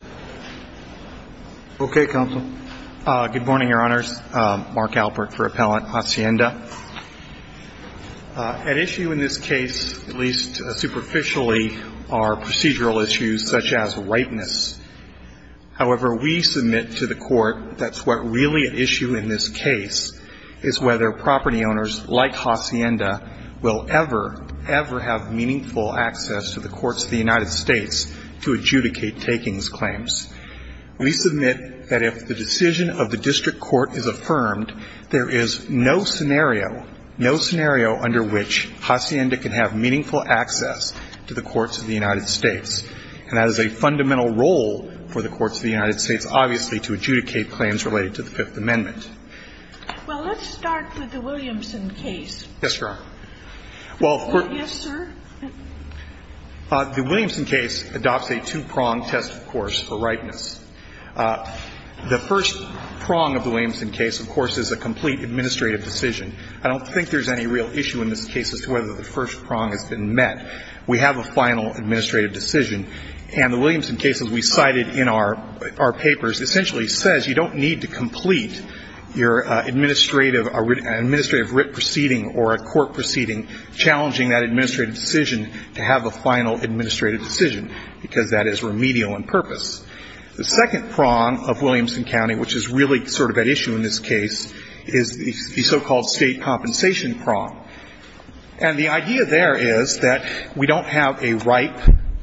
Good morning, Your Honors. Mark Alpert for Appellant Hacienda. At issue in this case, at least superficially, are procedural issues such as rightness. However, we submit to the Court that's what really at issue in this case is whether property owners like Hacienda will ever, ever have meaningful access to the courts of the United States to adjudicate takings claims. We submit that if the decision of the district court is affirmed, there is no scenario, no scenario under which Hacienda can have meaningful access to the courts of the United States. And that is a fundamental role for the courts of the United States, obviously, to adjudicate claims related to the Fifth Amendment. Well, let's start with the Williamson case. Yes, Your Honor. Yes, sir. The Williamson case adopts a two-pronged test, of course, for rightness. The first prong of the Williamson case, of course, is a complete administrative decision. I don't think there's any real issue in this case as to whether the first prong has been met. We have a final administrative decision. And the Williamson case, as we cited in our papers, essentially says you don't need to complete your administrative, an administrative writ proceeding or a court proceeding challenging that administrative decision to have a final administrative decision, because that is remedial in purpose. The second prong of Williamson County, which is really sort of at issue in this case, is the so-called state compensation prong. And the idea there is that we don't have a right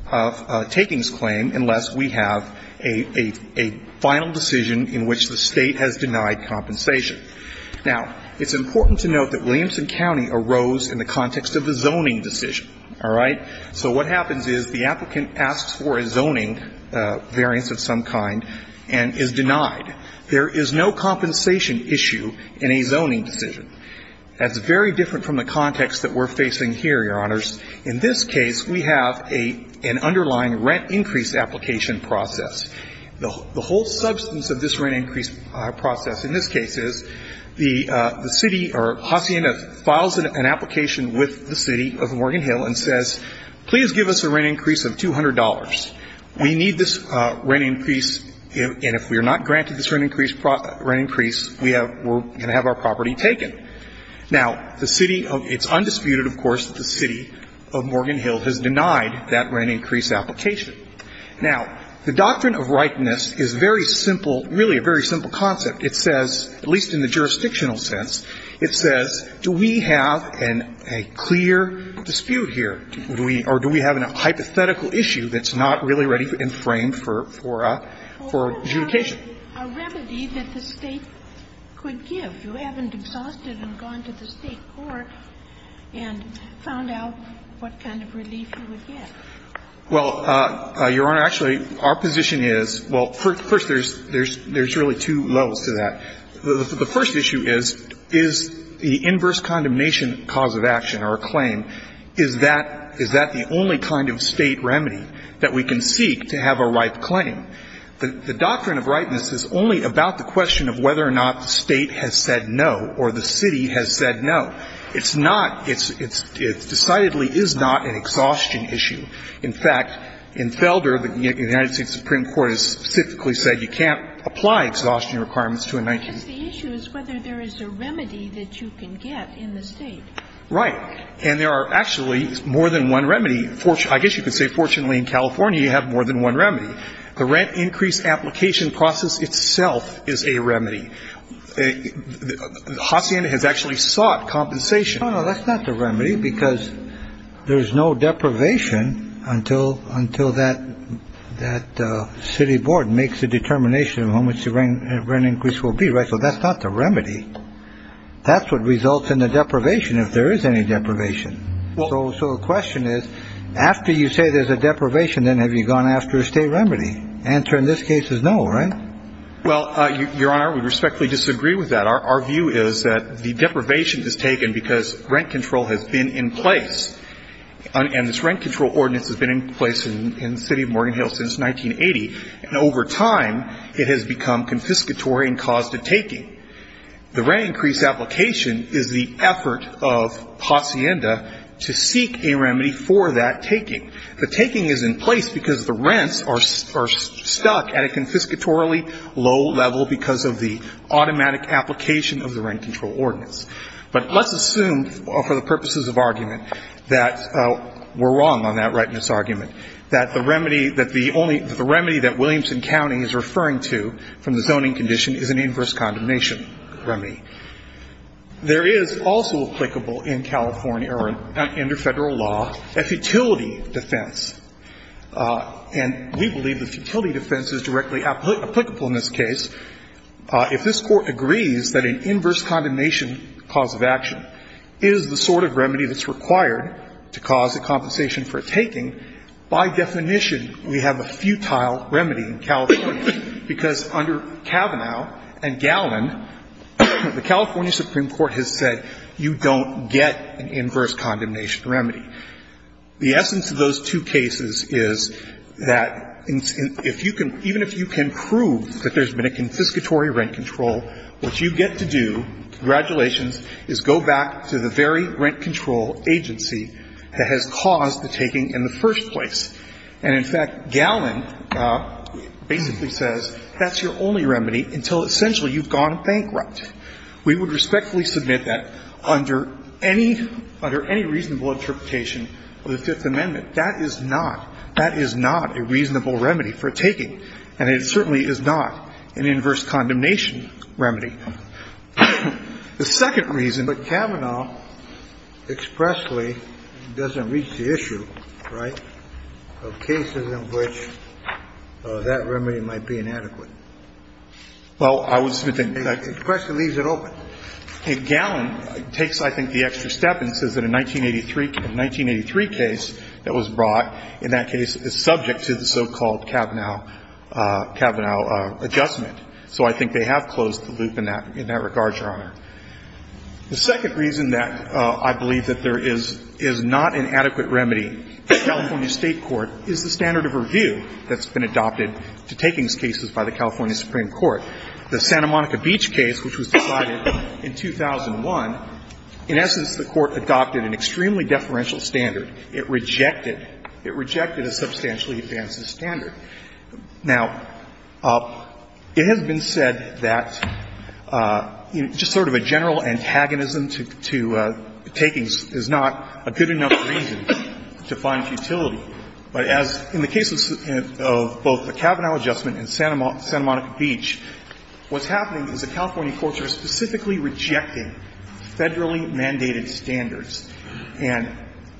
of takings claim unless we have a final decision in which the State has denied compensation. Now, it's important to note that Williamson County arose in the context of a zoning decision. All right? So what happens is the applicant asks for a zoning variance of some kind and is denied. There is no compensation issue in a zoning decision. That's very different from the context that we're facing here, Your Honors. In this case, we have an underlying rent increase application process. The whole substance of this rent increase process in this case is the city or Hacienda files an application with the City of Morgan Hill and says, please give us a rent increase of $200. We need this rent increase, and if we are not granted this rent increase, we're going to have our property taken. Now, the City of ‑‑ it's undisputed, of course, that the City of Morgan Hill has denied that rent increase application. Now, the doctrine of rightness is very simple, really a very simple concept. It says, at least in the jurisdictional sense, it says, do we have a clear dispute here, or do we have a hypothetical issue that's not really ready and framed for adjudication? Well, what about a remedy that the State could give? You haven't exhausted and gone to the State court and found out what kind of relief you would get. Well, Your Honor, actually, our position is, well, first, there's really two levels to that. The first issue is, is the inverse condemnation cause of action, or a claim, is that the only kind of State remedy that we can seek to have a right claim? The doctrine of rightness is only about the question of whether or not the State has said no or the City has said no. It's not ‑‑ it decidedly is not an exhaustion issue. In fact, in Felder, the United States Supreme Court has specifically said you can't apply exhaustion requirements to a 19‑year‑old. Because the issue is whether there is a remedy that you can get in the State. Right. And there are actually more than one remedy. I guess you could say, fortunately, in California, you have more than one remedy. The rent increase application process itself is a remedy. Hacienda has actually sought compensation. No, no, that's not the remedy, because there's no deprivation until that City board makes a determination of how much the rent increase will be, right? So that's not the remedy. That's what results in the deprivation, if there is any deprivation. So the question is, after you say there's a deprivation, then have you gone after a State remedy? Answer in this case is no, right? Well, Your Honor, we respectfully disagree with that. Our view is that the deprivation is taken because rent control has been in place. And this rent control ordinance has been in place in the City of Morgan Hill since 1980. And over time, it has become confiscatory and caused a taking. The rent increase application is the effort of Hacienda to seek a remedy for that taking. The taking is in place because the rents are stuck at a confiscatorily low level because of the automatic application of the rent control ordinance. But let's assume, for the purposes of argument, that we're wrong on that rightness argument, that the remedy that the only the remedy that Williamson County is referring to from the zoning condition is an inverse condemnation remedy. There is also applicable in California or under Federal law a futility defense. And we believe that the futility defense is directly applicable in this case. If this Court agrees that an inverse condemnation cause of action is the sort of remedy that's required to cause a compensation for a taking, by definition, we have a futile remedy in California, because under Kavanaugh and Gallin, the California Supreme Court has said you don't get an inverse condemnation remedy. The essence of those two cases is that if you can, even if you can prove that there's been a confiscatory rent control, what you get to do, congratulations, is go back to the very rent control agency that has caused the taking in the first place. And in fact, Gallin basically says that's your only remedy until essentially you've gone bankrupt. We would respectfully submit that under any reasonable interpretation of the Fifth Amendment. That is not, that is not a reasonable remedy for taking. And it certainly is not an inverse condemnation remedy. The second reason that Kavanaugh expressly doesn't reach the issue, right, of cases in which that remedy might be inadequate. Well, I would submit that the question leaves it open. And Gallin takes, I think, the extra step and says that a 1983 case that was brought in that case is subject to the so-called Kavanaugh adjustment. So I think they have closed the loop in that regard, Your Honor. The second reason that I believe that there is not an adequate remedy in the California State court is the standard of review that's been adopted to takings cases by the California Supreme Court. The Santa Monica Beach case, which was decided in 2001, in essence, the Court adopted an extremely deferential standard. It rejected a substantially advanced standard. Now, it has been said that just sort of a general antagonism to takings is not a good enough reason to find futility. But as in the case of both the Kavanaugh adjustment and Santa Monica Beach, what's happening is the California courts are specifically rejecting federally mandated standards, and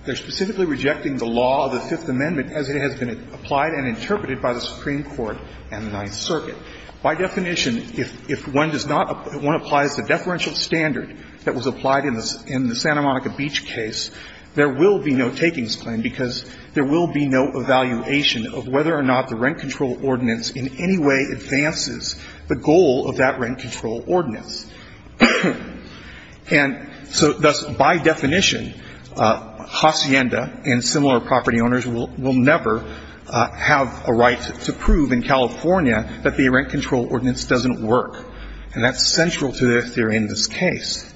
they're specifically rejecting the law of the Fifth Amendment as it has been applied and interpreted by the Supreme Court and the Ninth Circuit. By definition, if one does not – one applies the deferential standard that was applied in the Santa Monica Beach case, there will be no takings claim because there will be no evaluation of whether or not the rent control ordinance in any way advances the goal of that rent control ordinance. And so thus, by definition, Hacienda and similar property owners will never have a right to prove in California that the rent control ordinance doesn't work. And that's central to their theory in this case.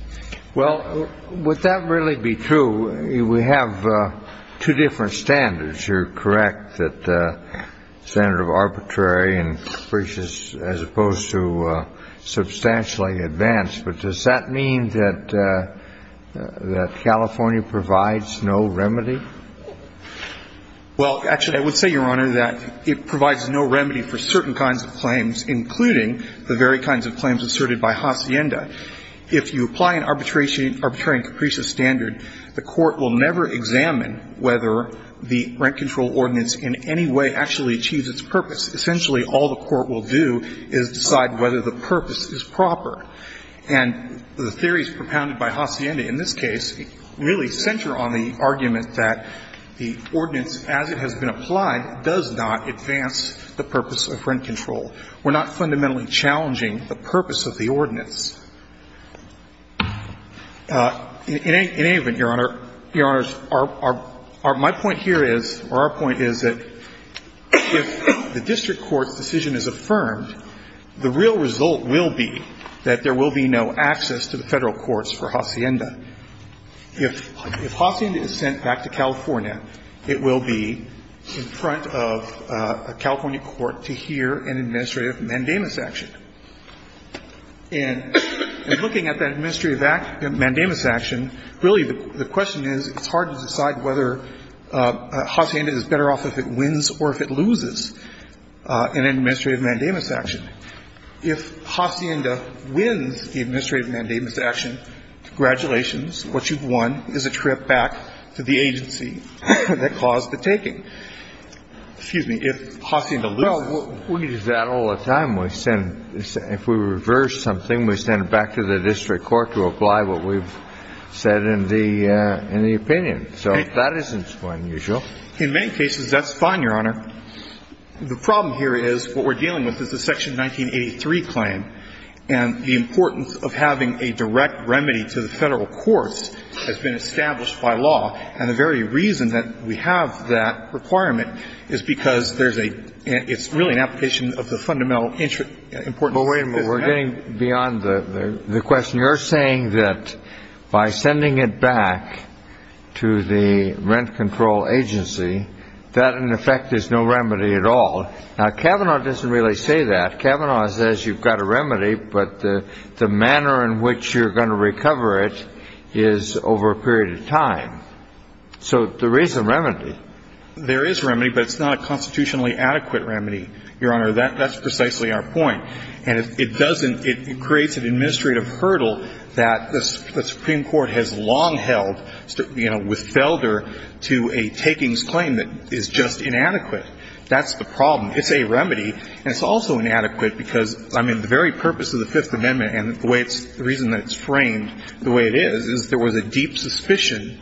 Well, would that really be true? We have two different standards. You're correct that the standard of arbitrary and precious as opposed to substantially advanced. But does that mean that California provides no remedy? Well, actually, I would say, Your Honor, that it provides no remedy for certain kinds of claims, including the very kinds of claims asserted by Hacienda. If you apply an arbitrary and capricious standard, the Court will never examine whether the rent control ordinance in any way actually achieves its purpose. Essentially, all the Court will do is decide whether the purpose is proper. And the theories propounded by Hacienda in this case really center on the argument that the ordinance, as it has been applied, does not advance the purpose of rent control. We're not fundamentally challenging the purpose of the ordinance. In any event, Your Honor, Your Honors, our point here is, or our point is that if the district court's decision is affirmed, the real result will be that there will be no access to the Federal courts for Hacienda. If Hacienda is sent back to California, it will be in front of a California court to hear an administrative mandamus action. And in looking at that administrative mandamus action, really the question is, it's hard to decide whether Hacienda is better off if it wins or if it loses an administrative mandamus action. If Hacienda wins the administrative mandamus action, congratulations, what you've won is a trip back to the agency that caused the taking. If Hacienda loses the action, it's a trip back to the agency that caused the taking. Kennedy. Well, we do that all the time. If we reverse something, we send it back to the district court to apply what we've said in the opinion. So that isn't unusual. In many cases, that's fine, Your Honor. The problem here is what we're dealing with is the Section 1983 claim, and the importance of having a direct remedy to the Federal courts has been established by law. And the very reason that we have that requirement is because there's a – it's really an application of the fundamental importance of this act. But wait a minute. We're getting beyond the question. You're saying that by sending it back to the rent control agency, that, in effect, is no remedy at all. Now, Kavanaugh doesn't really say that. Kavanaugh says you've got a remedy, but the manner in which you're going to recover it is over a period of time. So there is a remedy. There is a remedy, but it's not a constitutionally adequate remedy, Your Honor. That's precisely our point. And it doesn't – it creates an administrative hurdle that the Supreme Court has long held, you know, with Felder, to a takings claim that is just inadequate. That's the problem. It's a remedy, and it's also inadequate because, I mean, the very purpose of the Fifth Amendment and the way it's – the reason that it's framed the way it is, is there was a deep suspicion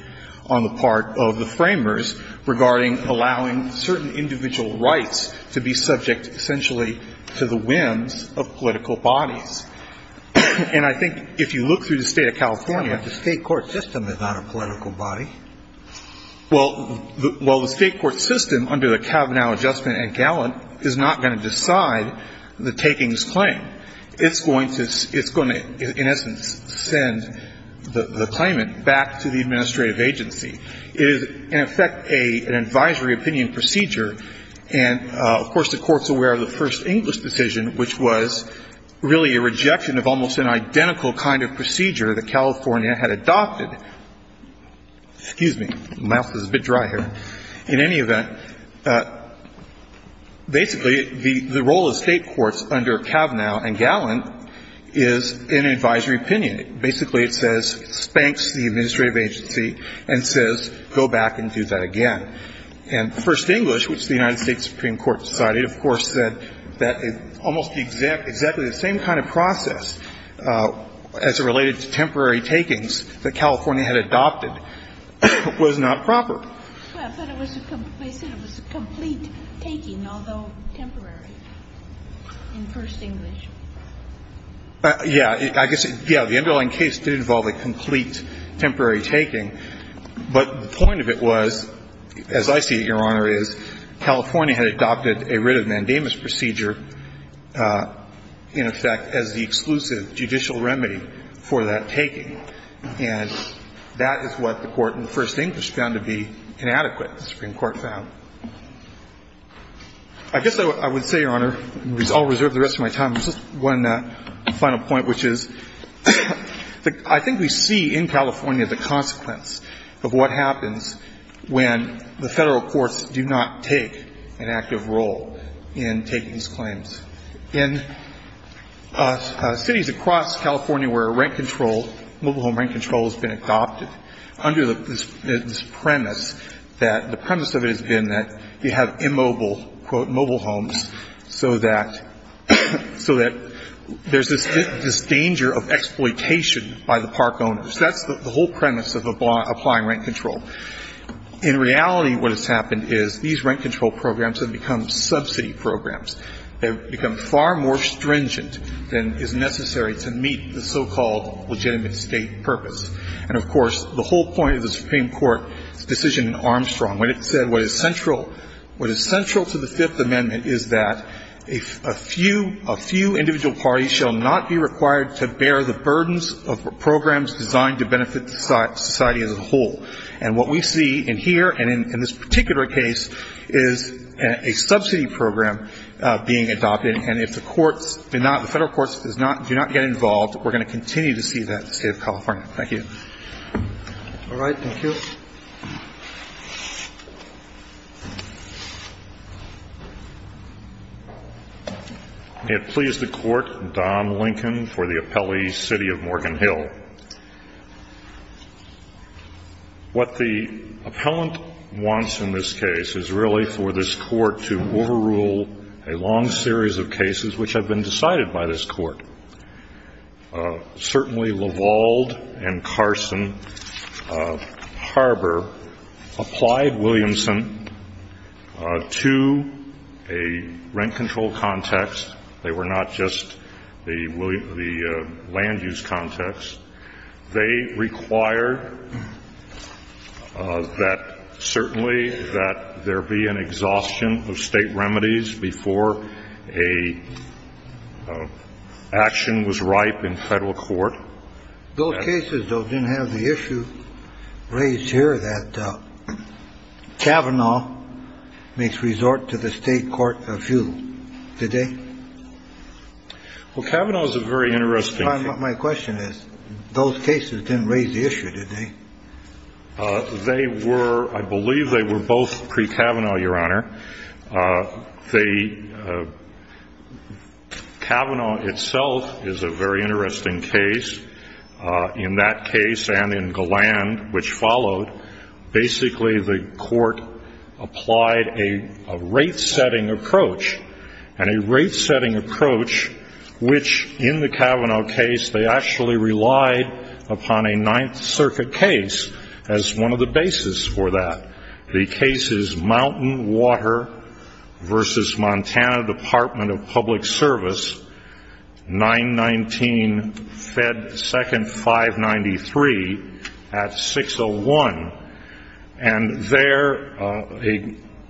on the part of the framers regarding allowing certain individual rights to be subject essentially to the whims of political bodies. And I think if you look through the State of California, the State court system is not a political body. Well, the State court system under the Kavanaugh adjustment and Gallant is not going to decide the takings claim. It's going to – it's going to, in essence, send the claimant back to the administrative agency. It is, in effect, an advisory opinion procedure. And, of course, the Court's aware of the first English decision, which was really a rejection of almost an identical kind of procedure that California had adopted. Excuse me. My mouth is a bit dry here. In any event, basically, the role of State courts under Kavanaugh and Gallant is an advisory opinion. Basically, it says – it spanks the administrative agency and says, go back and do that again. And first English, which the United States Supreme Court decided, of course, that almost exactly the same kind of process as related to temporary takings that California had adopted was not proper. Well, but it was a – they said it was a complete taking, although temporary, in first English. Yeah. I guess, yeah, the underlying case did involve a complete temporary taking. But the point of it was, as I see it, Your Honor, is California had adopted a writ of mandamus procedure, in effect, as the exclusive judicial remedy for that taking. And that is what the Court in first English found to be inadequate, the Supreme Court found. I guess I would say, Your Honor, I'll reserve the rest of my time. Just one final point, which is, I think we see in California the consequence of what happens when the Federal courts do not take an active role in taking these claims. In cities across California where rent control, mobile home rent control has been adopted, under this premise that – the premise of it has been that you have immobile, quote, mobile homes so that – so that there's this danger of exploitation by the park owners. That's the whole premise of applying rent control. In reality, what has happened is these rent control programs have become subsidy programs. They've become far more stringent than is necessary to meet the so-called legitimate State purpose. And, of course, the whole point of the Supreme Court's decision in Armstrong, when it said what is central – what is central to the Fifth Amendment is that a few – a few individual parties shall not be required to bear the burdens of programs designed to benefit society as a whole. And what we see in here, and in this particular case, is a subsidy program being adopted. And if the courts do not – the Federal courts do not get involved, we're going to continue to see that in the State of California. Thank you. All right. Thank you. May it please the Court, Don Lincoln for the appellee, City of Morgan Hill. What the appellant wants in this case is really for this Court to overrule a long series of cases which have been decided by this Court. Certainly, Levalde and Carson Harbor applied Williamson to a rent control context. They were not just the land use context. They required that certainly that there be an exhaustion of State remedies before an action was ripe in Federal court. Those cases, though, didn't have the issue raised here that Kavanaugh makes resort to the State court of view, did they? Well, Kavanaugh is a very interesting – My question is, those cases didn't raise the issue, did they? They were – I believe they were both pre-Kavanaugh, Your Honor. The Kavanaugh itself is a very interesting case. In that case and in Galland, which followed, basically the Court applied a rate-setting approach, and a rate-setting approach which in the Kavanaugh case they actually relied upon a Ninth Circuit case as one of the bases for that. The case is Mountain Water v. Montana Department of Public Service, 919 Fed 2nd 593 at 601. And there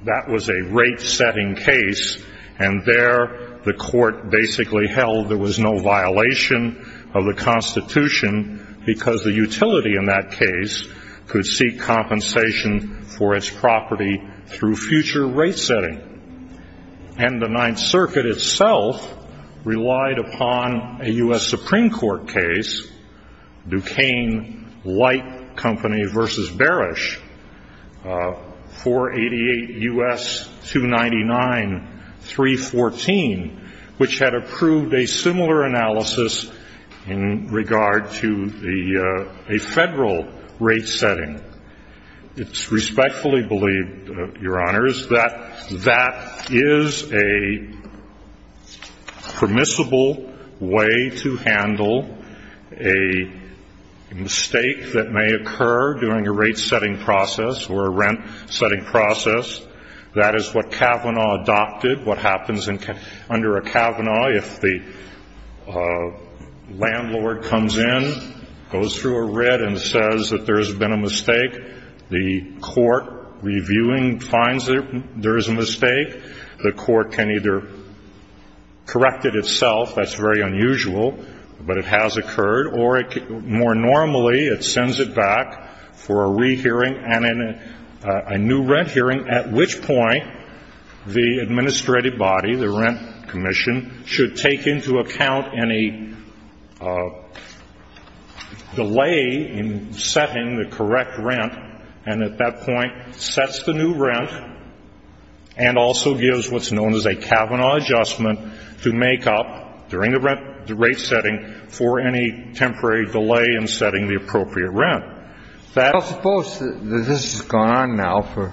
that was a rate-setting case, and there the Court basically held there was no violation of the Constitution because the utility in that case could seek compensation for its property through future rate-setting. And the Ninth Circuit itself relied upon a U.S. Supreme Court case, Duquesne Light Company v. Barish, 488 U.S. 299 314, which had approved a similar analysis in regard to a Federal rate-setting. It's respectfully believed, Your Honors, that that is a permissible way to handle a mistake that may occur during a rate-setting process or a rent-setting process. That is what Kavanaugh adopted. What happens under a Kavanaugh, if the landlord comes in, goes through a rent, and says that there has been a mistake, the court reviewing finds there is a mistake, the court can either correct it itself, that's very unusual, but it has occurred, or more normally it sends it back for a rehearing and a new rent hearing, at which point the administrative body, the rent commission, should take into account any delay in setting the correct rent, and at that point sets the new rent and also gives what's known as a Kavanaugh adjustment to make up during the rate-setting for any temporary delay in setting the appropriate rent. I suppose that this has gone on now for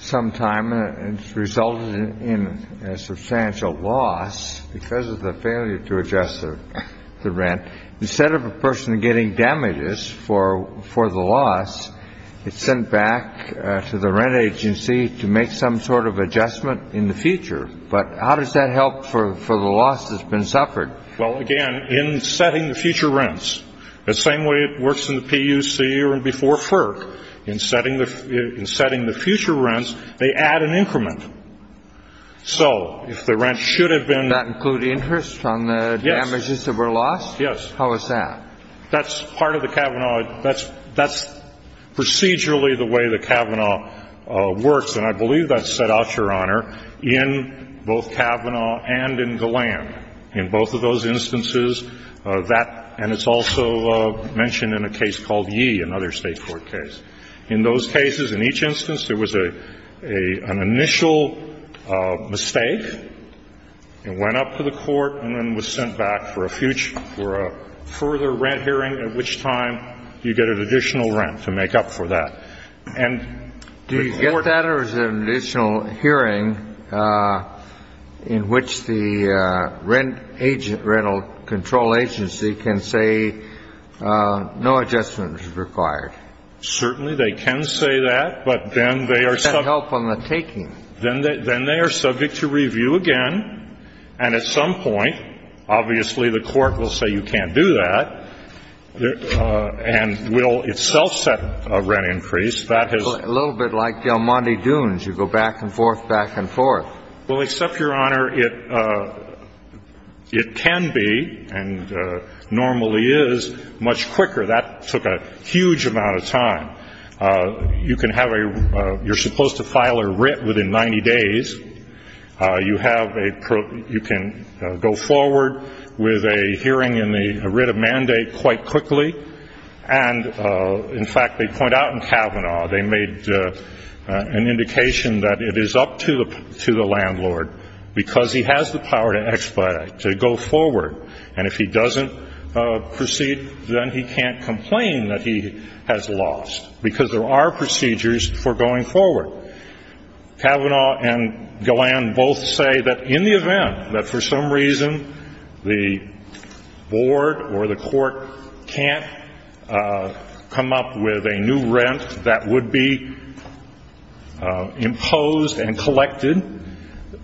some time, and it's resulted in a substantial loss because of the failure to adjust the rent. Instead of a person getting damages for the loss, it's sent back to the rent agency to make some sort of adjustment in the future. But how does that help for the loss that's been suffered? Well, again, in setting the future rents, the same way it works in the PUC or before FERC, in setting the future rents, they add an increment. So if the rent should have been ---- Does that include interest on the damages that were lost? Yes. How is that? That's part of the Kavanaugh ---- that's procedurally the way the Kavanaugh works, and I believe that's set out, Your Honor, in both Kavanaugh and in Galland. In both of those instances, that ---- and it's also mentioned in a case called Yee, another State court case. In those cases, in each instance, there was an initial mistake. It went up to the court and then was sent back for a future ---- for a further rent hearing, at which time you get an additional rent to make up for that. And the court ---- Do you get that? Or is there an additional hearing in which the rent agent ---- rental control agency can say no adjustment is required? Certainly they can say that, but then they are ---- That can help on the taking. Then they are subject to review again, and at some point, obviously, the court will say you can't do that and will itself set a rent increase. That has ---- A little bit like the Almonte Dunes. You go back and forth, back and forth. Well, except, Your Honor, it can be and normally is much quicker. That took a huge amount of time. You can have a ---- you're supposed to file a writ within 90 days. You have a ---- you can go forward with a hearing in the writ of mandate quite quickly. And, in fact, they point out in Kavanaugh, they made an indication that it is up to the landlord, because he has the power to expedite, to go forward. And if he doesn't proceed, then he can't complain that he has lost, because there are procedures for going forward. Kavanaugh and Golan both say that in the event that, for some reason, the board or the court can't come up with a new rent that would be imposed and collected,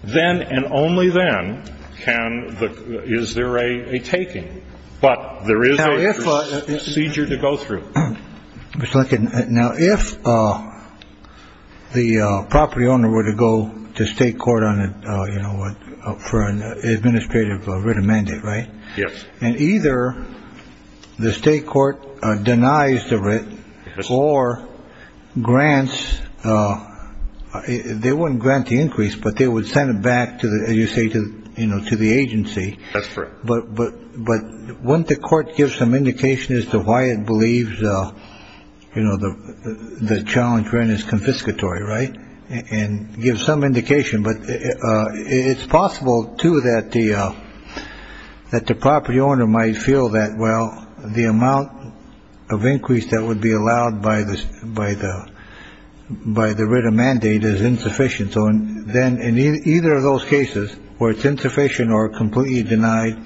then and only then can the ---- is there a taking. But there is a procedure to go through. Now, if the property owner were to go to state court on it, you know what, for an administrative writ of mandate. Right. Yes. And either the state court denies the writ or grants. They wouldn't grant the increase, but they would send it back to the state, you know, to the agency. That's true. But but but when the court gives some indication as to why it believes, you know, the challenge rent is confiscatory. Right. And give some indication. But it's possible, too, that the that the property owner might feel that. Well, the amount of increase that would be allowed by this, by the by the writ of mandate is insufficient. So then in either of those cases where it's insufficient or completely denied,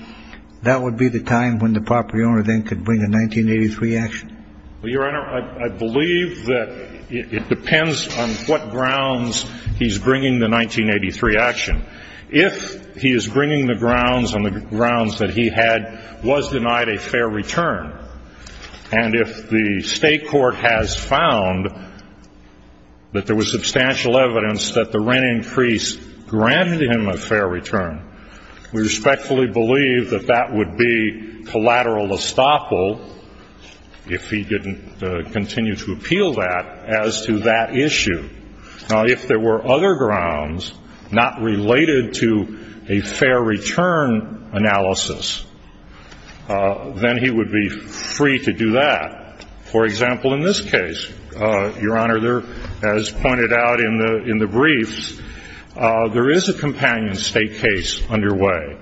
that would be the time when the property owner then could bring a 1983 action. Well, Your Honor, I believe that it depends on what grounds he's bringing the 1983 action. If he is bringing the grounds on the grounds that he had was denied a fair return. And if the state court has found that there was substantial evidence that the rent increase granted him a fair return, we respectfully believe that that would be collateral estoppel if he didn't continue to appeal that as to that issue. Now, if there were other grounds not related to a fair return analysis, then he would be free to do that. For example, in this case, Your Honor, there, as pointed out in the in the briefs, there is a companion state case underway.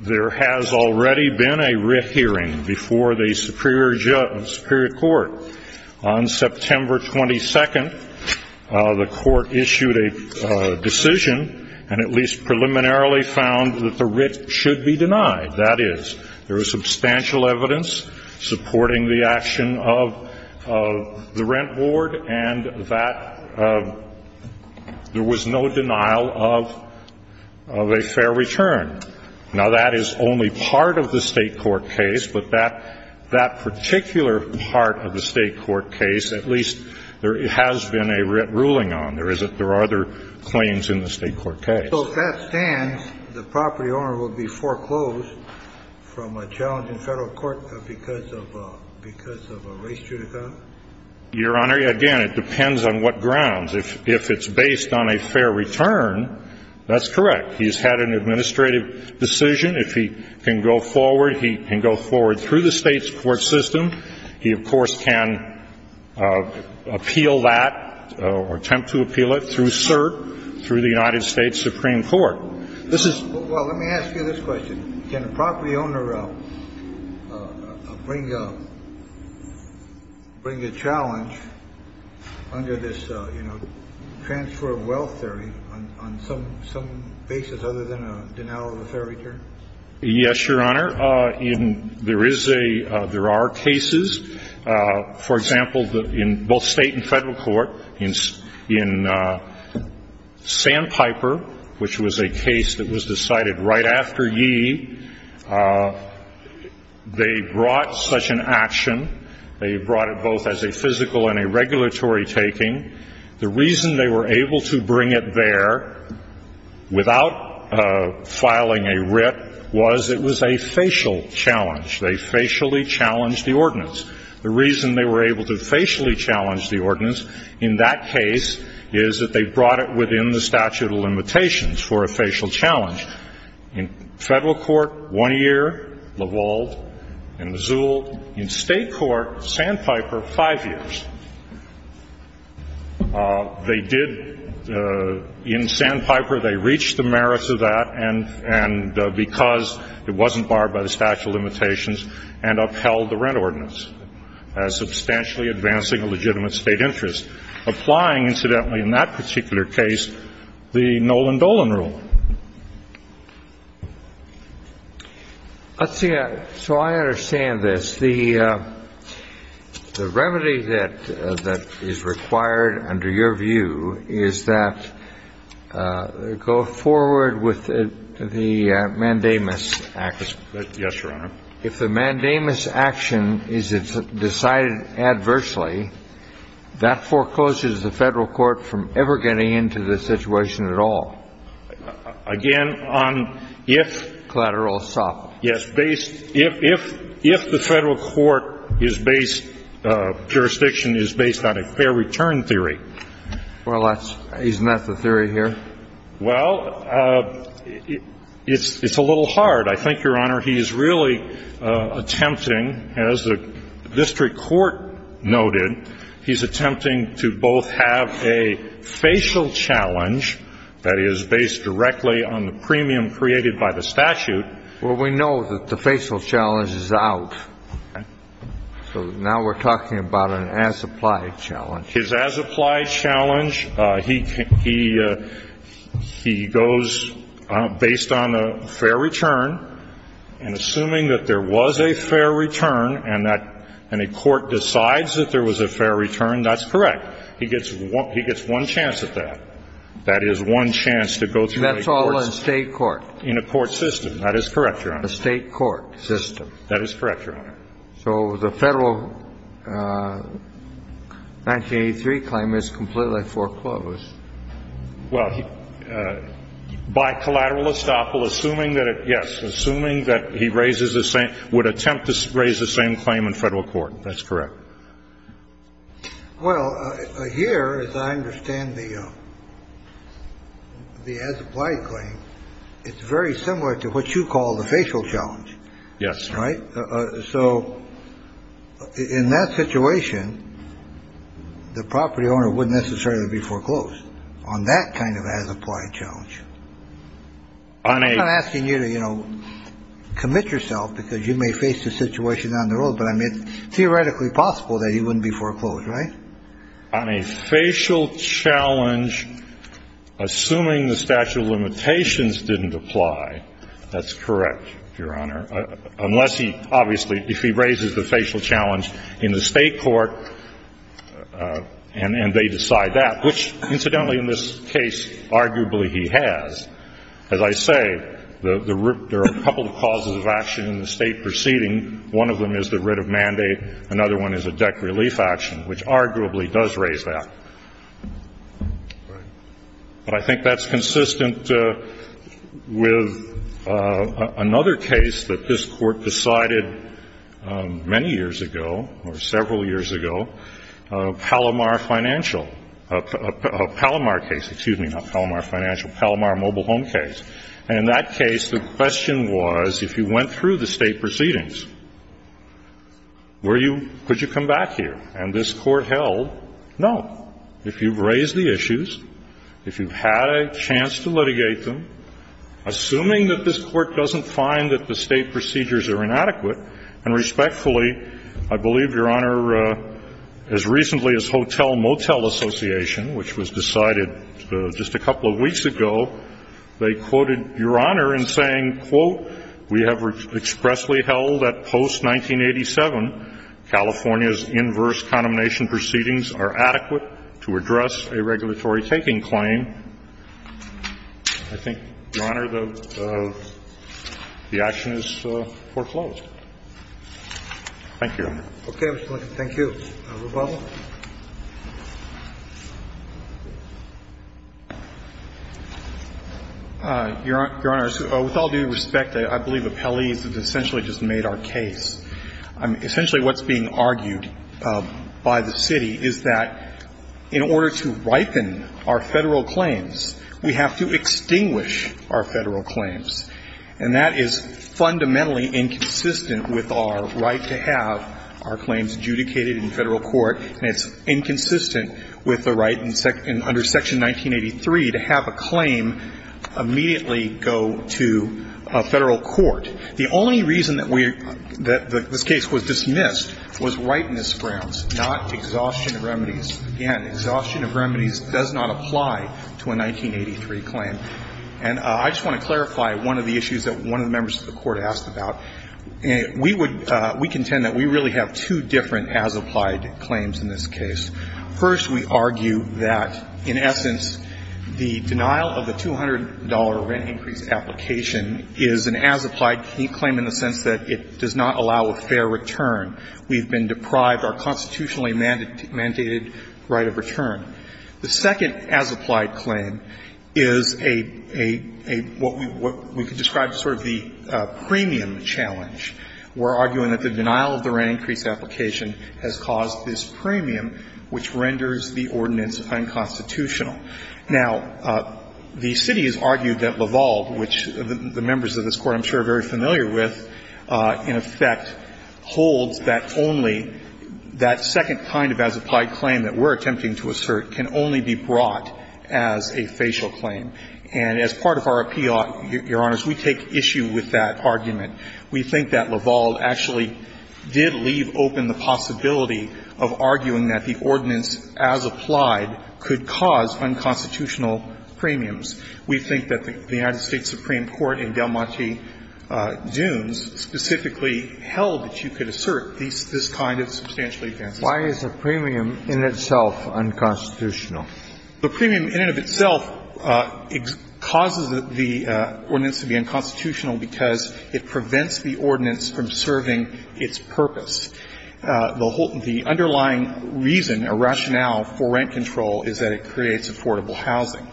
There has already been a writ hearing before the Superior Court on September 22nd. The court issued a decision and at least preliminarily found that the writ should be denied. That is, there is substantial evidence supporting the action of the rent board and that there was no denial of a fair return. Now, that is only part of the state court case. But that particular part of the state court case, at least, there has been a writ ruling on. There are other claims in the state court case. So if that stands, the property owner will be foreclosed from a challenging federal court because of a race judicata? Your Honor, again, it depends on what grounds. If it's based on a fair return, that's correct. He's had an administrative decision. If he can go forward, he can go forward through the state's court system. He, of course, can appeal that or attempt to appeal it through cert, through the United States Supreme Court. This is ---- Well, let me ask you this question. Can a property owner bring a challenge under this, you know, transfer of wealth theory on some basis other than a denial of a fair return? Yes, Your Honor. There is a ---- there are cases. For example, in both state and federal court, in Sandpiper, which was a case that was decided right after Yee, they brought such an action. They brought it both as a physical and a regulatory taking. The reason they were able to bring it there without filing a writ was it was a facial challenge. They facially challenged the ordinance. The reason they were able to facially challenge the ordinance in that case is that they brought it within the statute of limitations for a facial challenge. In federal court, one year, LaVault and Mazul. In state court, Sandpiper, five years. They did ---- in Sandpiper, they reached the merits of that, and because it wasn't barred by the statute of limitations, and upheld the rent ordinance as substantially advancing a legitimate state interest, applying, incidentally, in that particular case, the Nolan-Dolan rule. Let's see. So I understand this. The remedy that is required under your view is that go forward with the mandamus action. Yes, Your Honor. If the mandamus action is decided adversely, that forecloses the federal court from ever getting into the situation at all. Again, on if ---- Collateral estoppel. Yes. If the federal court is based ---- jurisdiction is based on a fair return theory. Well, that's ---- isn't that the theory here? Well, it's a little hard. I think, Your Honor, he's really attempting, as the district court noted, he's attempting to both have a facial challenge that is based directly on the premium created by the statute ---- Well, we know that the facial challenge is out. So now we're talking about an as-applied challenge. His as-applied challenge, he goes based on a fair return, and assuming that there was a fair return and a court decides that there was a fair return, that's correct. He gets one chance at that. That is one chance to go through a court ---- That's all in a state court. In a court system. That is correct, Your Honor. A state court system. That is correct, Your Honor. So the federal 1983 claim is completely foreclosed. Well, by collateral estoppel, assuming that it ---- yes, assuming that he raises the same ---- would attempt to raise the same claim in federal court. That's correct. Well, here, as I understand the as-applied claim, it's very similar to what you call the facial challenge. Yes. Right? So in that situation, the property owner wouldn't necessarily be foreclosed on that kind of as-applied challenge. I'm not asking you to, you know, commit yourself because you may face a situation down the road, but, I mean, it's theoretically possible that he wouldn't be foreclosed, right? On a facial challenge, assuming the statute of limitations didn't apply, that's correct, Your Honor, unless he obviously ---- if he raises the facial challenge in the state court and they decide that, which, incidentally, in this case, arguably he has. As I say, there are a couple of causes of action in the state proceeding. One of them is the writ of mandate. Another one is a deck relief action, which arguably does raise that. Right. But I think that's consistent with another case that this Court decided many years ago or several years ago, Palomar Financial, a Palomar case. Excuse me, not Palomar Financial, Palomar Mobile Home case. And in that case, the question was, if you went through the state proceedings, were you ---- could you come back here? And this Court held, no. If you've raised the issues, if you've had a chance to litigate them, assuming that this Court doesn't find that the state procedures are inadequate, and respectfully, I believe, Your Honor, as recently as Hotel Motel Association, which was decided just a couple of weeks ago, they quoted Your Honor in saying, quote, We have expressly held that post-1987, California's inverse condemnation proceedings are adequate to address a regulatory taking claim. I think, Your Honor, the action is foreclosed. Thank you. Okay. Thank you. Rubato. Your Honor, with all due respect, I believe appellees have essentially just made our case. Essentially what's being argued by the city is that in order to ripen our Federal claims, we have to extinguish our Federal claims. And that is fundamentally inconsistent with our right to have our claims adjudicated in Federal court, and it's inconsistent with the right under Section 1983 to have a claim immediately go to a Federal court. The only reason that this case was dismissed was rightness grounds, not exhaustion of remedies. Again, exhaustion of remedies does not apply to a 1983 claim. And I just want to clarify one of the issues that one of the members of the Court asked about. We would we contend that we really have two different as-applied claims in this case. First, we argue that, in essence, the denial of the $200 rent increase application is an as-applied claim in the sense that it does not allow a fair return. We've been deprived our constitutionally mandated right of return. The second as-applied claim is a, a, a, what we, what we could describe as sort of the premium challenge. We're arguing that the denial of the rent increase application has caused this premium, which renders the ordinance unconstitutional. Now, the city has argued that Laval, which the members of this Court I'm sure are very familiar with, in effect holds that only that second kind of as-applied claim that we're attempting to assert can only be brought as a facial claim. And as part of our appeal, Your Honors, we take issue with that argument. We think that Laval actually did leave open the possibility of arguing that the ordinance as-applied could cause unconstitutional premiums. We think that the United States Supreme Court in Delmonte Dunes specifically held that you could assert this, this kind of substantially advanced claim. Why is the premium in itself unconstitutional? The premium in and of itself causes the ordinance to be unconstitutional because it prevents the ordinance from serving its purpose. The whole, the underlying reason or rationale for rent control is that it creates affordable housing.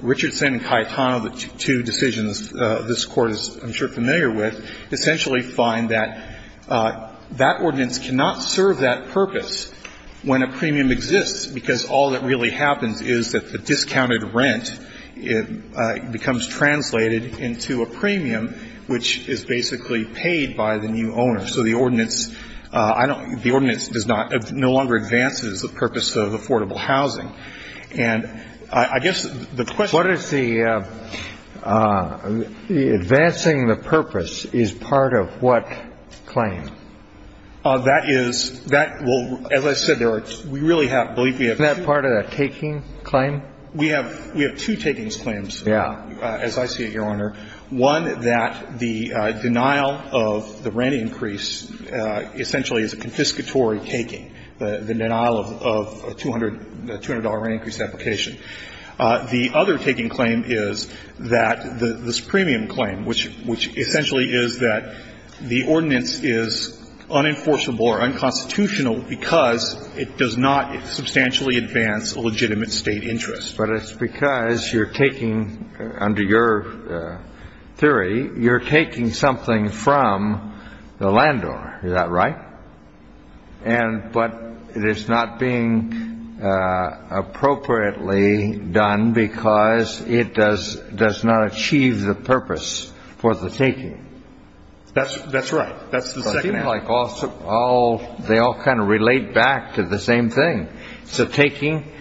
Richardson and Cayetano, the two decisions this Court is I'm sure familiar with, essentially find that that ordinance cannot serve that purpose when a premium exists, because all that really happens is that the discounted rent becomes translated into a premium, which is basically paid by the new owner. So the ordinance, I don't, the ordinance does not, no longer advances the purpose of affordable housing. And I guess the question. What is the, advancing the purpose is part of what claim? That is, that will, as I said, there are, we really have, I believe we have two. Isn't that part of the taking claim? We have, we have two takings claims. Yeah. As I see it, Your Honor. One, that the denial of the rent increase essentially is a confiscatory taking, the denial of a $200 rent increase application. The other taking claim is that this premium claim, which essentially is that the ordinance is unenforceable or unconstitutional because it does not substantially advance a legitimate State interest. But it's because you're taking, under your theory, you're taking something from the landowner. Is that right? And, but it is not being appropriately done because it does, does not achieve the purpose for the taking. That's, that's right. That's the second. Like all, they all kind of relate back to the same thing. So taking,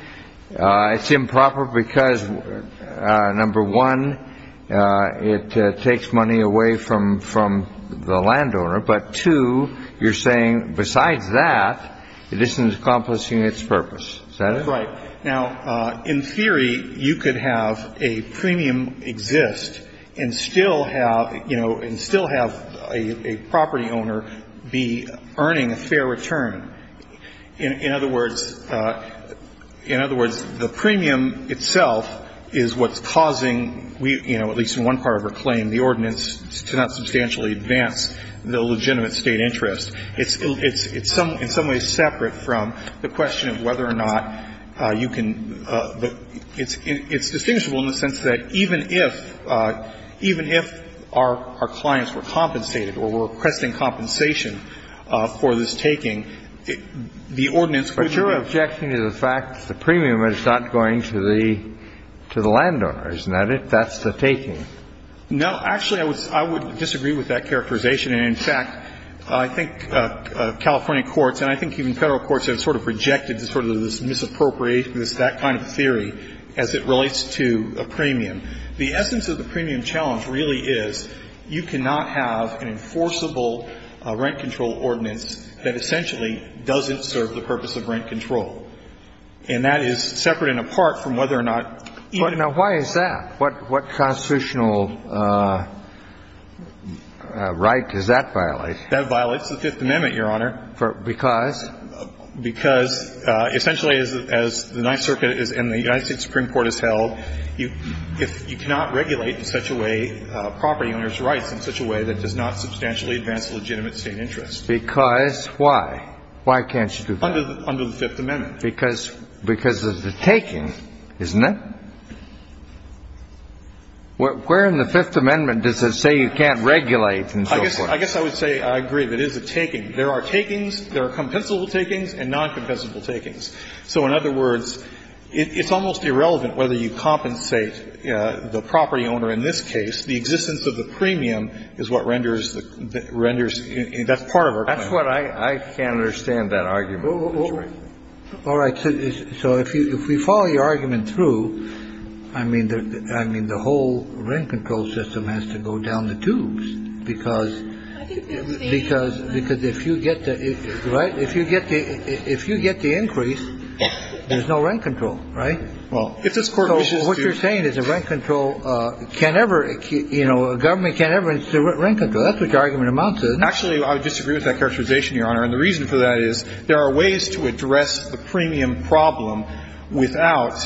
it's improper because number one, it takes money away from, from the landowner. for the taking. Besides that, it isn't accomplishing its purpose. Is that it? Right. Now, in theory, you could have a premium exist and still have, you know, and still have a property owner be earning a fair return. In other words, the premium itself is what's causing, you know, at least in one part of our claim, the ordinance to not substantially advance the legitimate State interest. It's in some ways separate from the question of whether or not you can, it's distinguishable in the sense that even if, even if our clients were compensated or were requesting compensation for this taking, the ordinance would serve. But you're objecting to the fact that the premium is not going to the, to the landowner. Isn't that it? That's the taking. No. Actually, I would, I would disagree with that characterization. And in fact, I think California courts, and I think even Federal courts have sort of rejected sort of this misappropriation, this, that kind of theory as it relates to a premium. The essence of the premium challenge really is you cannot have an enforceable rent control ordinance that essentially doesn't serve the purpose of rent control. And that is separate and apart from whether or not even the. But now why is that? What, what constitutional right does that violate? That violates the Fifth Amendment, Your Honor. Because? Because essentially as the Ninth Circuit is, and the United States Supreme Court has held, you, if you cannot regulate in such a way property owners' rights in such a way that does not substantially advance legitimate state interests. Because why? Why can't you do that? Under the Fifth Amendment. Because, because of the taking, isn't it? Where in the Fifth Amendment does it say you can't regulate and so forth? I guess, I guess I would say I agree that it is a taking. There are takings, there are compensable takings and non-compensable takings. So in other words, it's almost irrelevant whether you compensate the property owner in this case. The existence of the premium is what renders the, renders, that's part of our claim. That's what I, I can't understand that argument. All right. So if you, if we follow your argument through, I mean, I mean, the whole rent control system has to go down the tubes because, because, because if you get the, right? If you get the, if you get the increase, there's no rent control, right? Well, if this Court wishes to. So what you're saying is a rent control can't ever, you know, a government can't ever institute rent control. That's what your argument amounts to, isn't it? Actually, I would disagree with that characterization, Your Honor. And the reason for that is there are ways to address the premium problem without.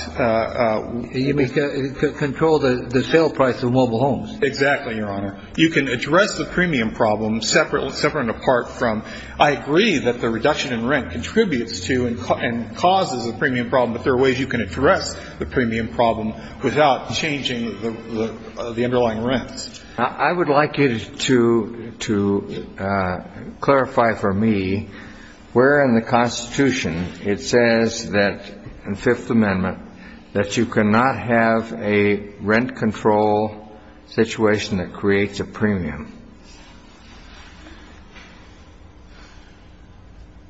You mean control the, the sale price of mobile homes. Exactly, Your Honor. You can address the premium problem separate, separate and apart from, I agree that the reduction in rent contributes to and causes the premium problem, but there are ways you can address the premium problem without changing the, the underlying rents. I would like you to, to clarify for me where in the Constitution it says that in Fifth Amendment that you cannot have a rent control situation that creates a premium.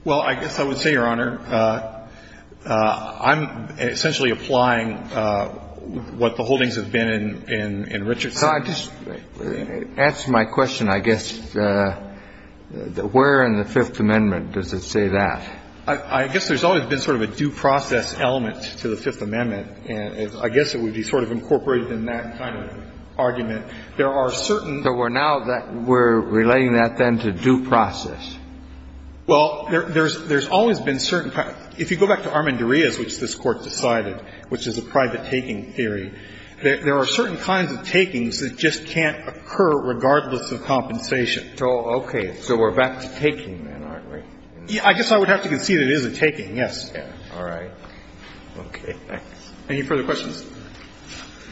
Well, I guess I would say, Your Honor, I'm essentially applying what the holdings have been in, in Richardson. So I just, to answer my question, I guess, where in the Fifth Amendment does it say that? I guess there's always been sort of a due process element to the Fifth Amendment, and I guess it would be sort of incorporated in that kind of argument. There are certain So we're now that, we're relating that then to due process. Well, there's, there's always been certain kinds. If you go back to Armendariz, which this Court decided, which is a private taking theory, there are certain kinds of takings that just can't occur regardless of compensation. Oh, okay. So we're back to taking then, aren't we? I guess I would have to concede it is a taking, yes. All right. Okay. Thanks. Any further questions?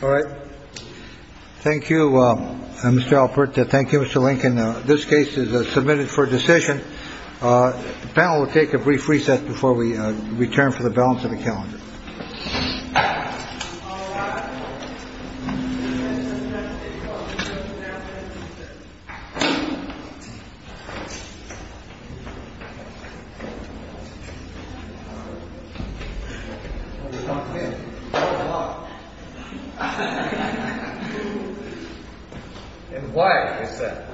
All right. Thank you, Mr. Alpert. Thank you, Mr. Lincoln. This case is submitted for decision. The panel will take a brief recess before we return for the balance of the calendar. And quiet for a second.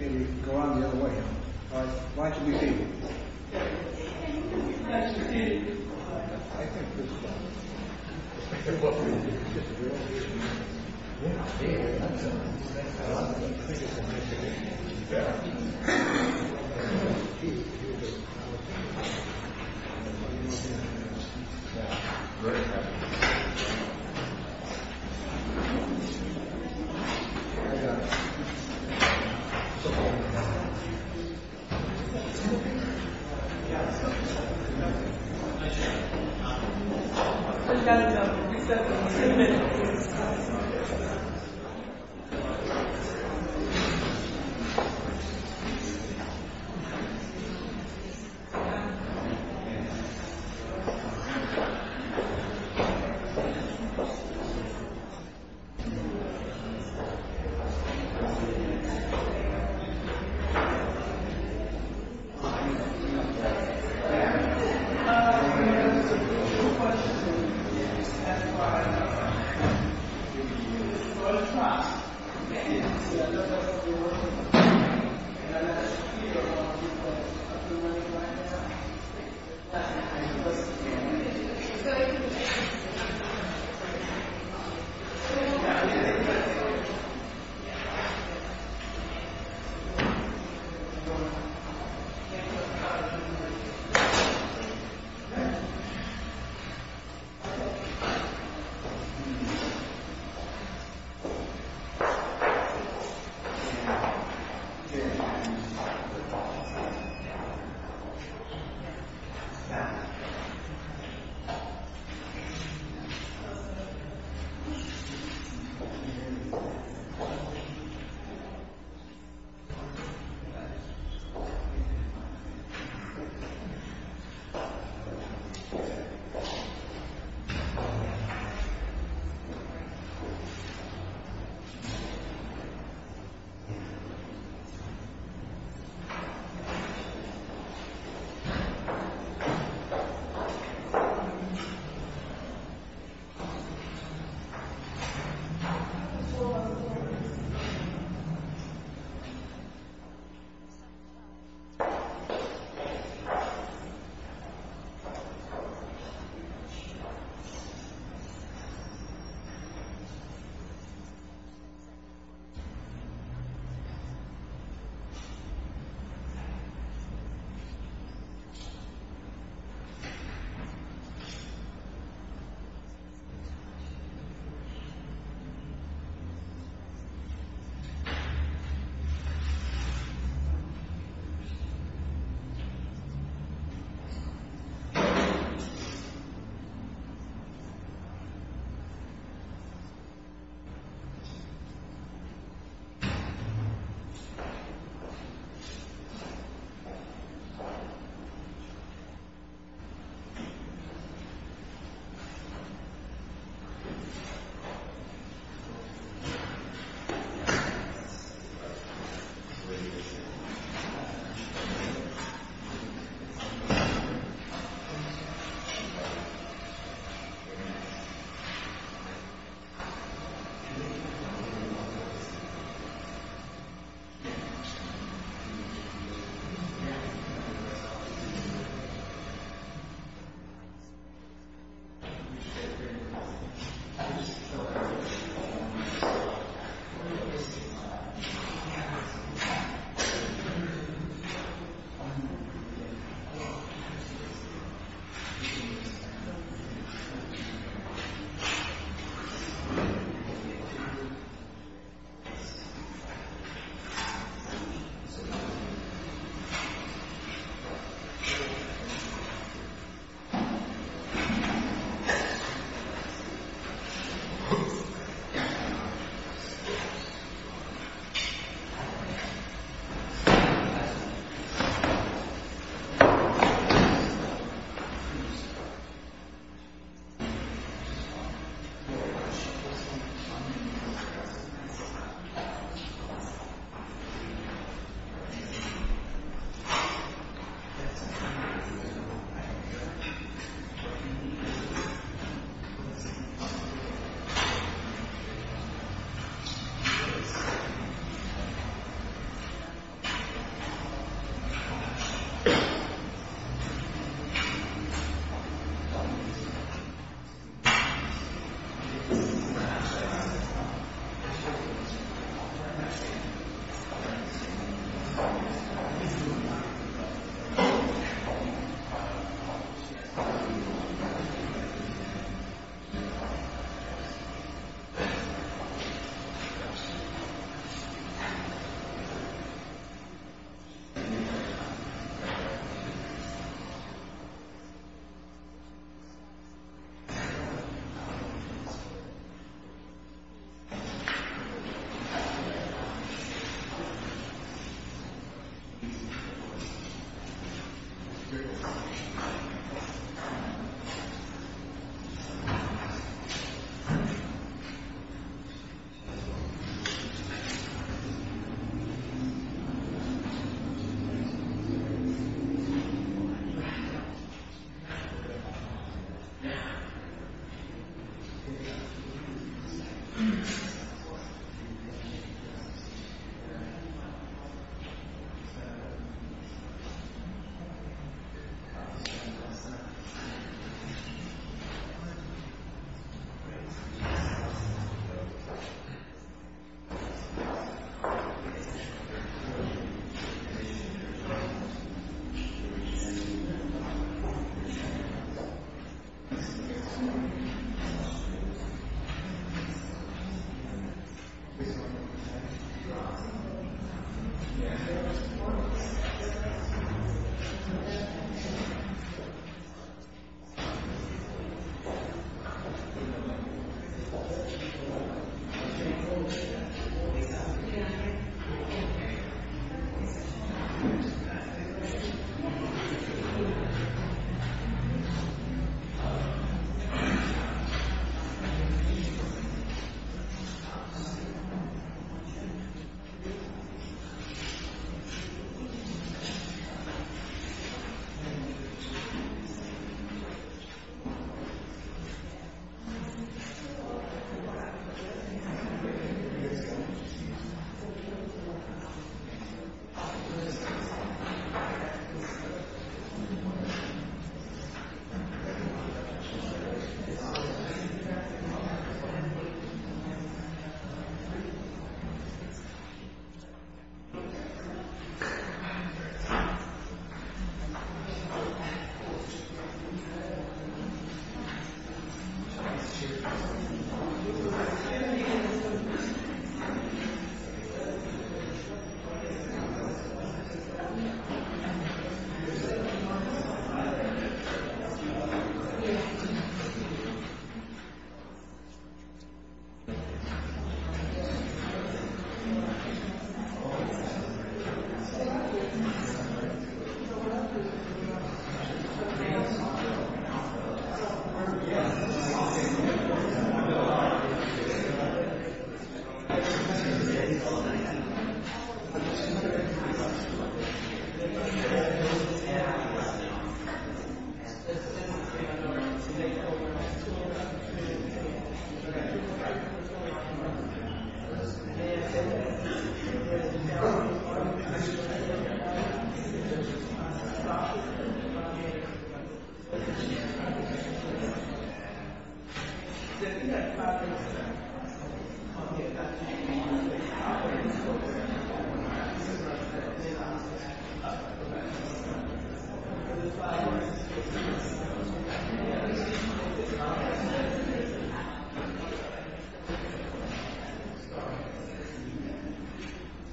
Maybe go around the other way. All right. Why don't you repeat it?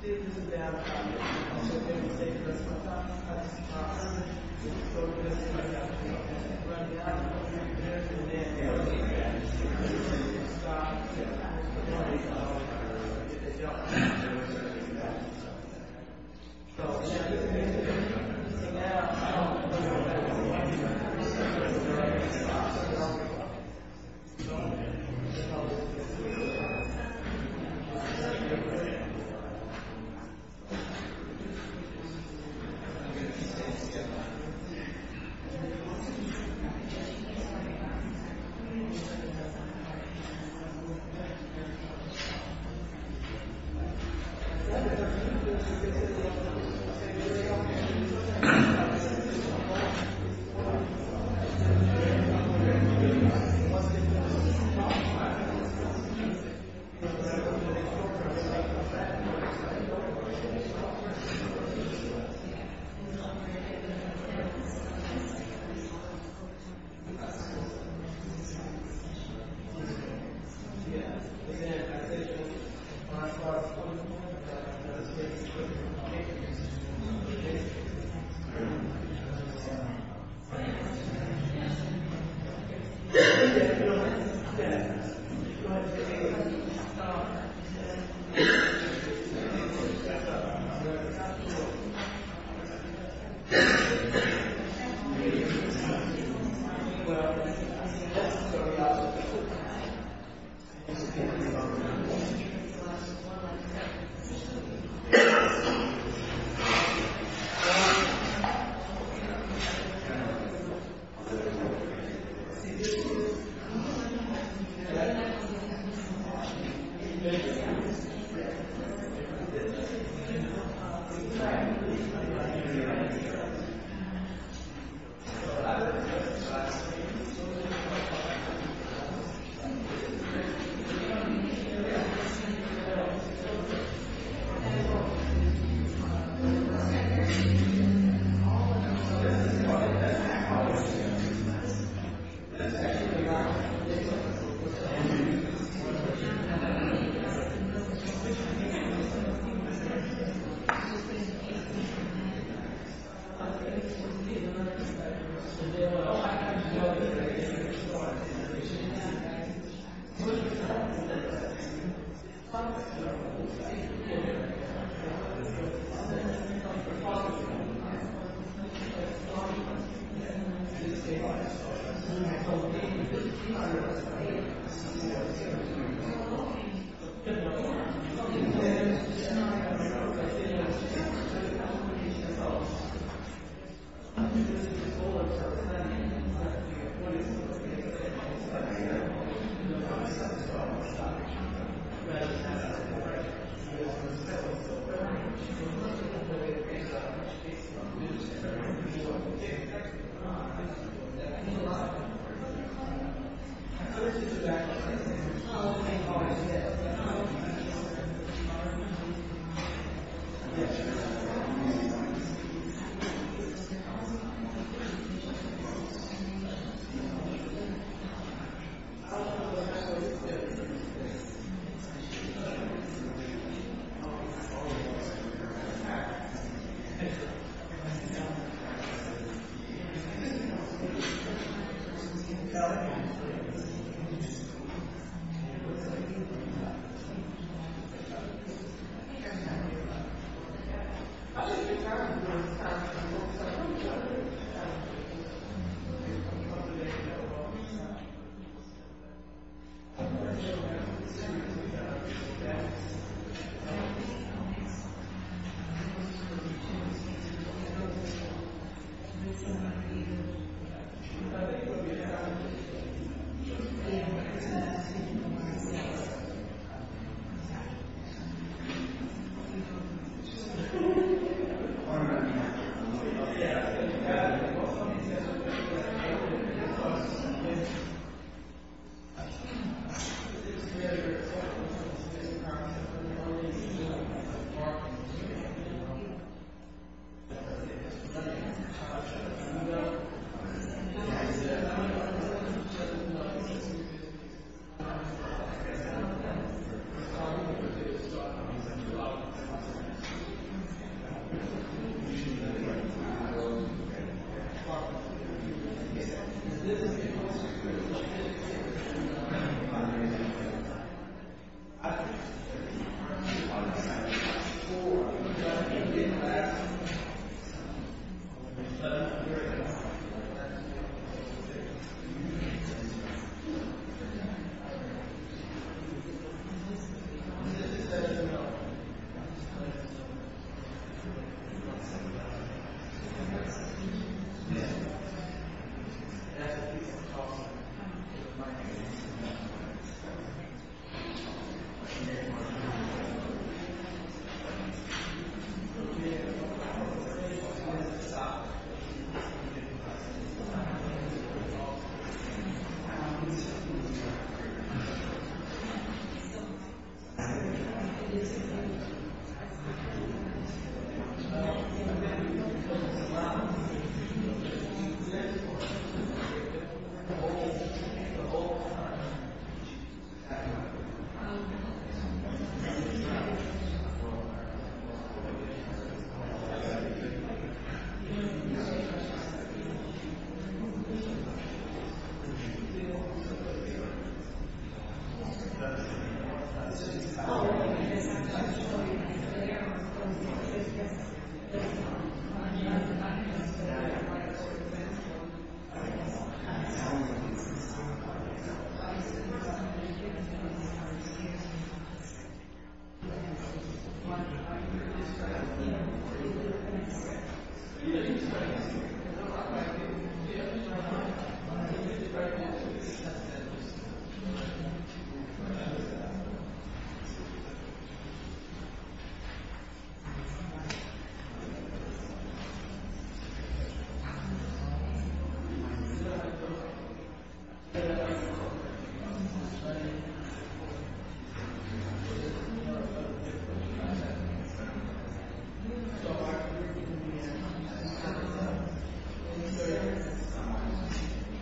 All right. All right.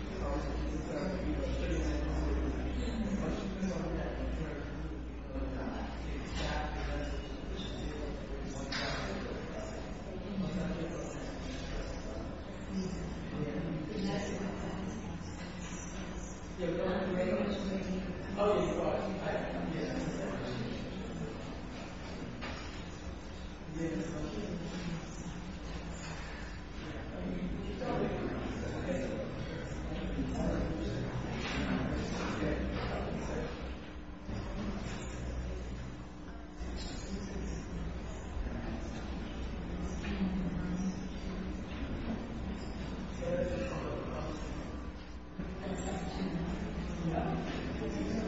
Yeah, yeah, yeah, yeah, Yeah. mhm yeah, okay. Yeah, yeah, mm. Mhm, no, five, this happened. Okay. Mm hmm. Okay. Yeah, right. Yeah. Yeah. Okay. Yeah. Yeah. Yeah. Yeah. Mm. Yeah. Okay. entinely. Yeah, yeah. Yeah. Yeah. Yeah. Yeah. Yeah. Well, yeah. Yeah. Yeah. Yeah. Yeah. Okay, yeah. That's actually mm hmm. Yeah. Yeah. Yeah. Yeah. Yeah. Yeah. Yeah. Yeah. Yeah. Yeah.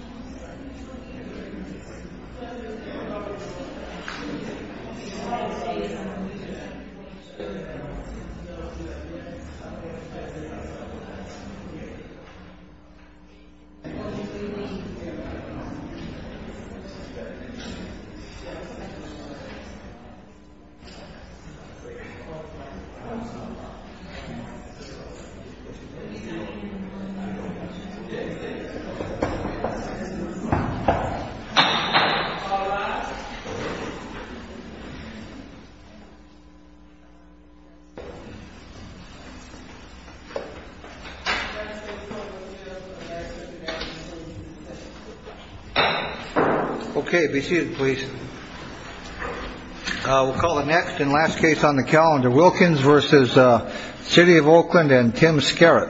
Yeah. Yeah. Mm hmm. Yeah. Okay. No, Yeah. What's OK. Yeah. Okay. Right. Yeah. And Okay. Mhm. Yeah. Yeah. Okay. Oh, all right. Yeah. I don't know. All right. Yeah. Yeah. Yeah. Okay. Yeah. Okay. Okay. Yeah. Yeah. I know. Yeah. Yeah. I know. Yeah. Yeah. Mhm. Yeah. Yeah. Okay. It's correct It's all right. Yeah. Yeah. Okay. Yeah. Okay. Yeah. Okay. Good. Okay. Okay. Okay. Okay. Okay. Okay. Yeah. Oh, yeah. Okay. Yeah. Yeah. Yeah. Yeah. Yeah. Okay. Yeah. Yeah. Yeah. Yeah. Yeah. Yeah. Yeah. All right. Okay. Be seated, please. We'll call the next and last case on the calendar. Wilkins versus City of Oakland and Tim Scarrett.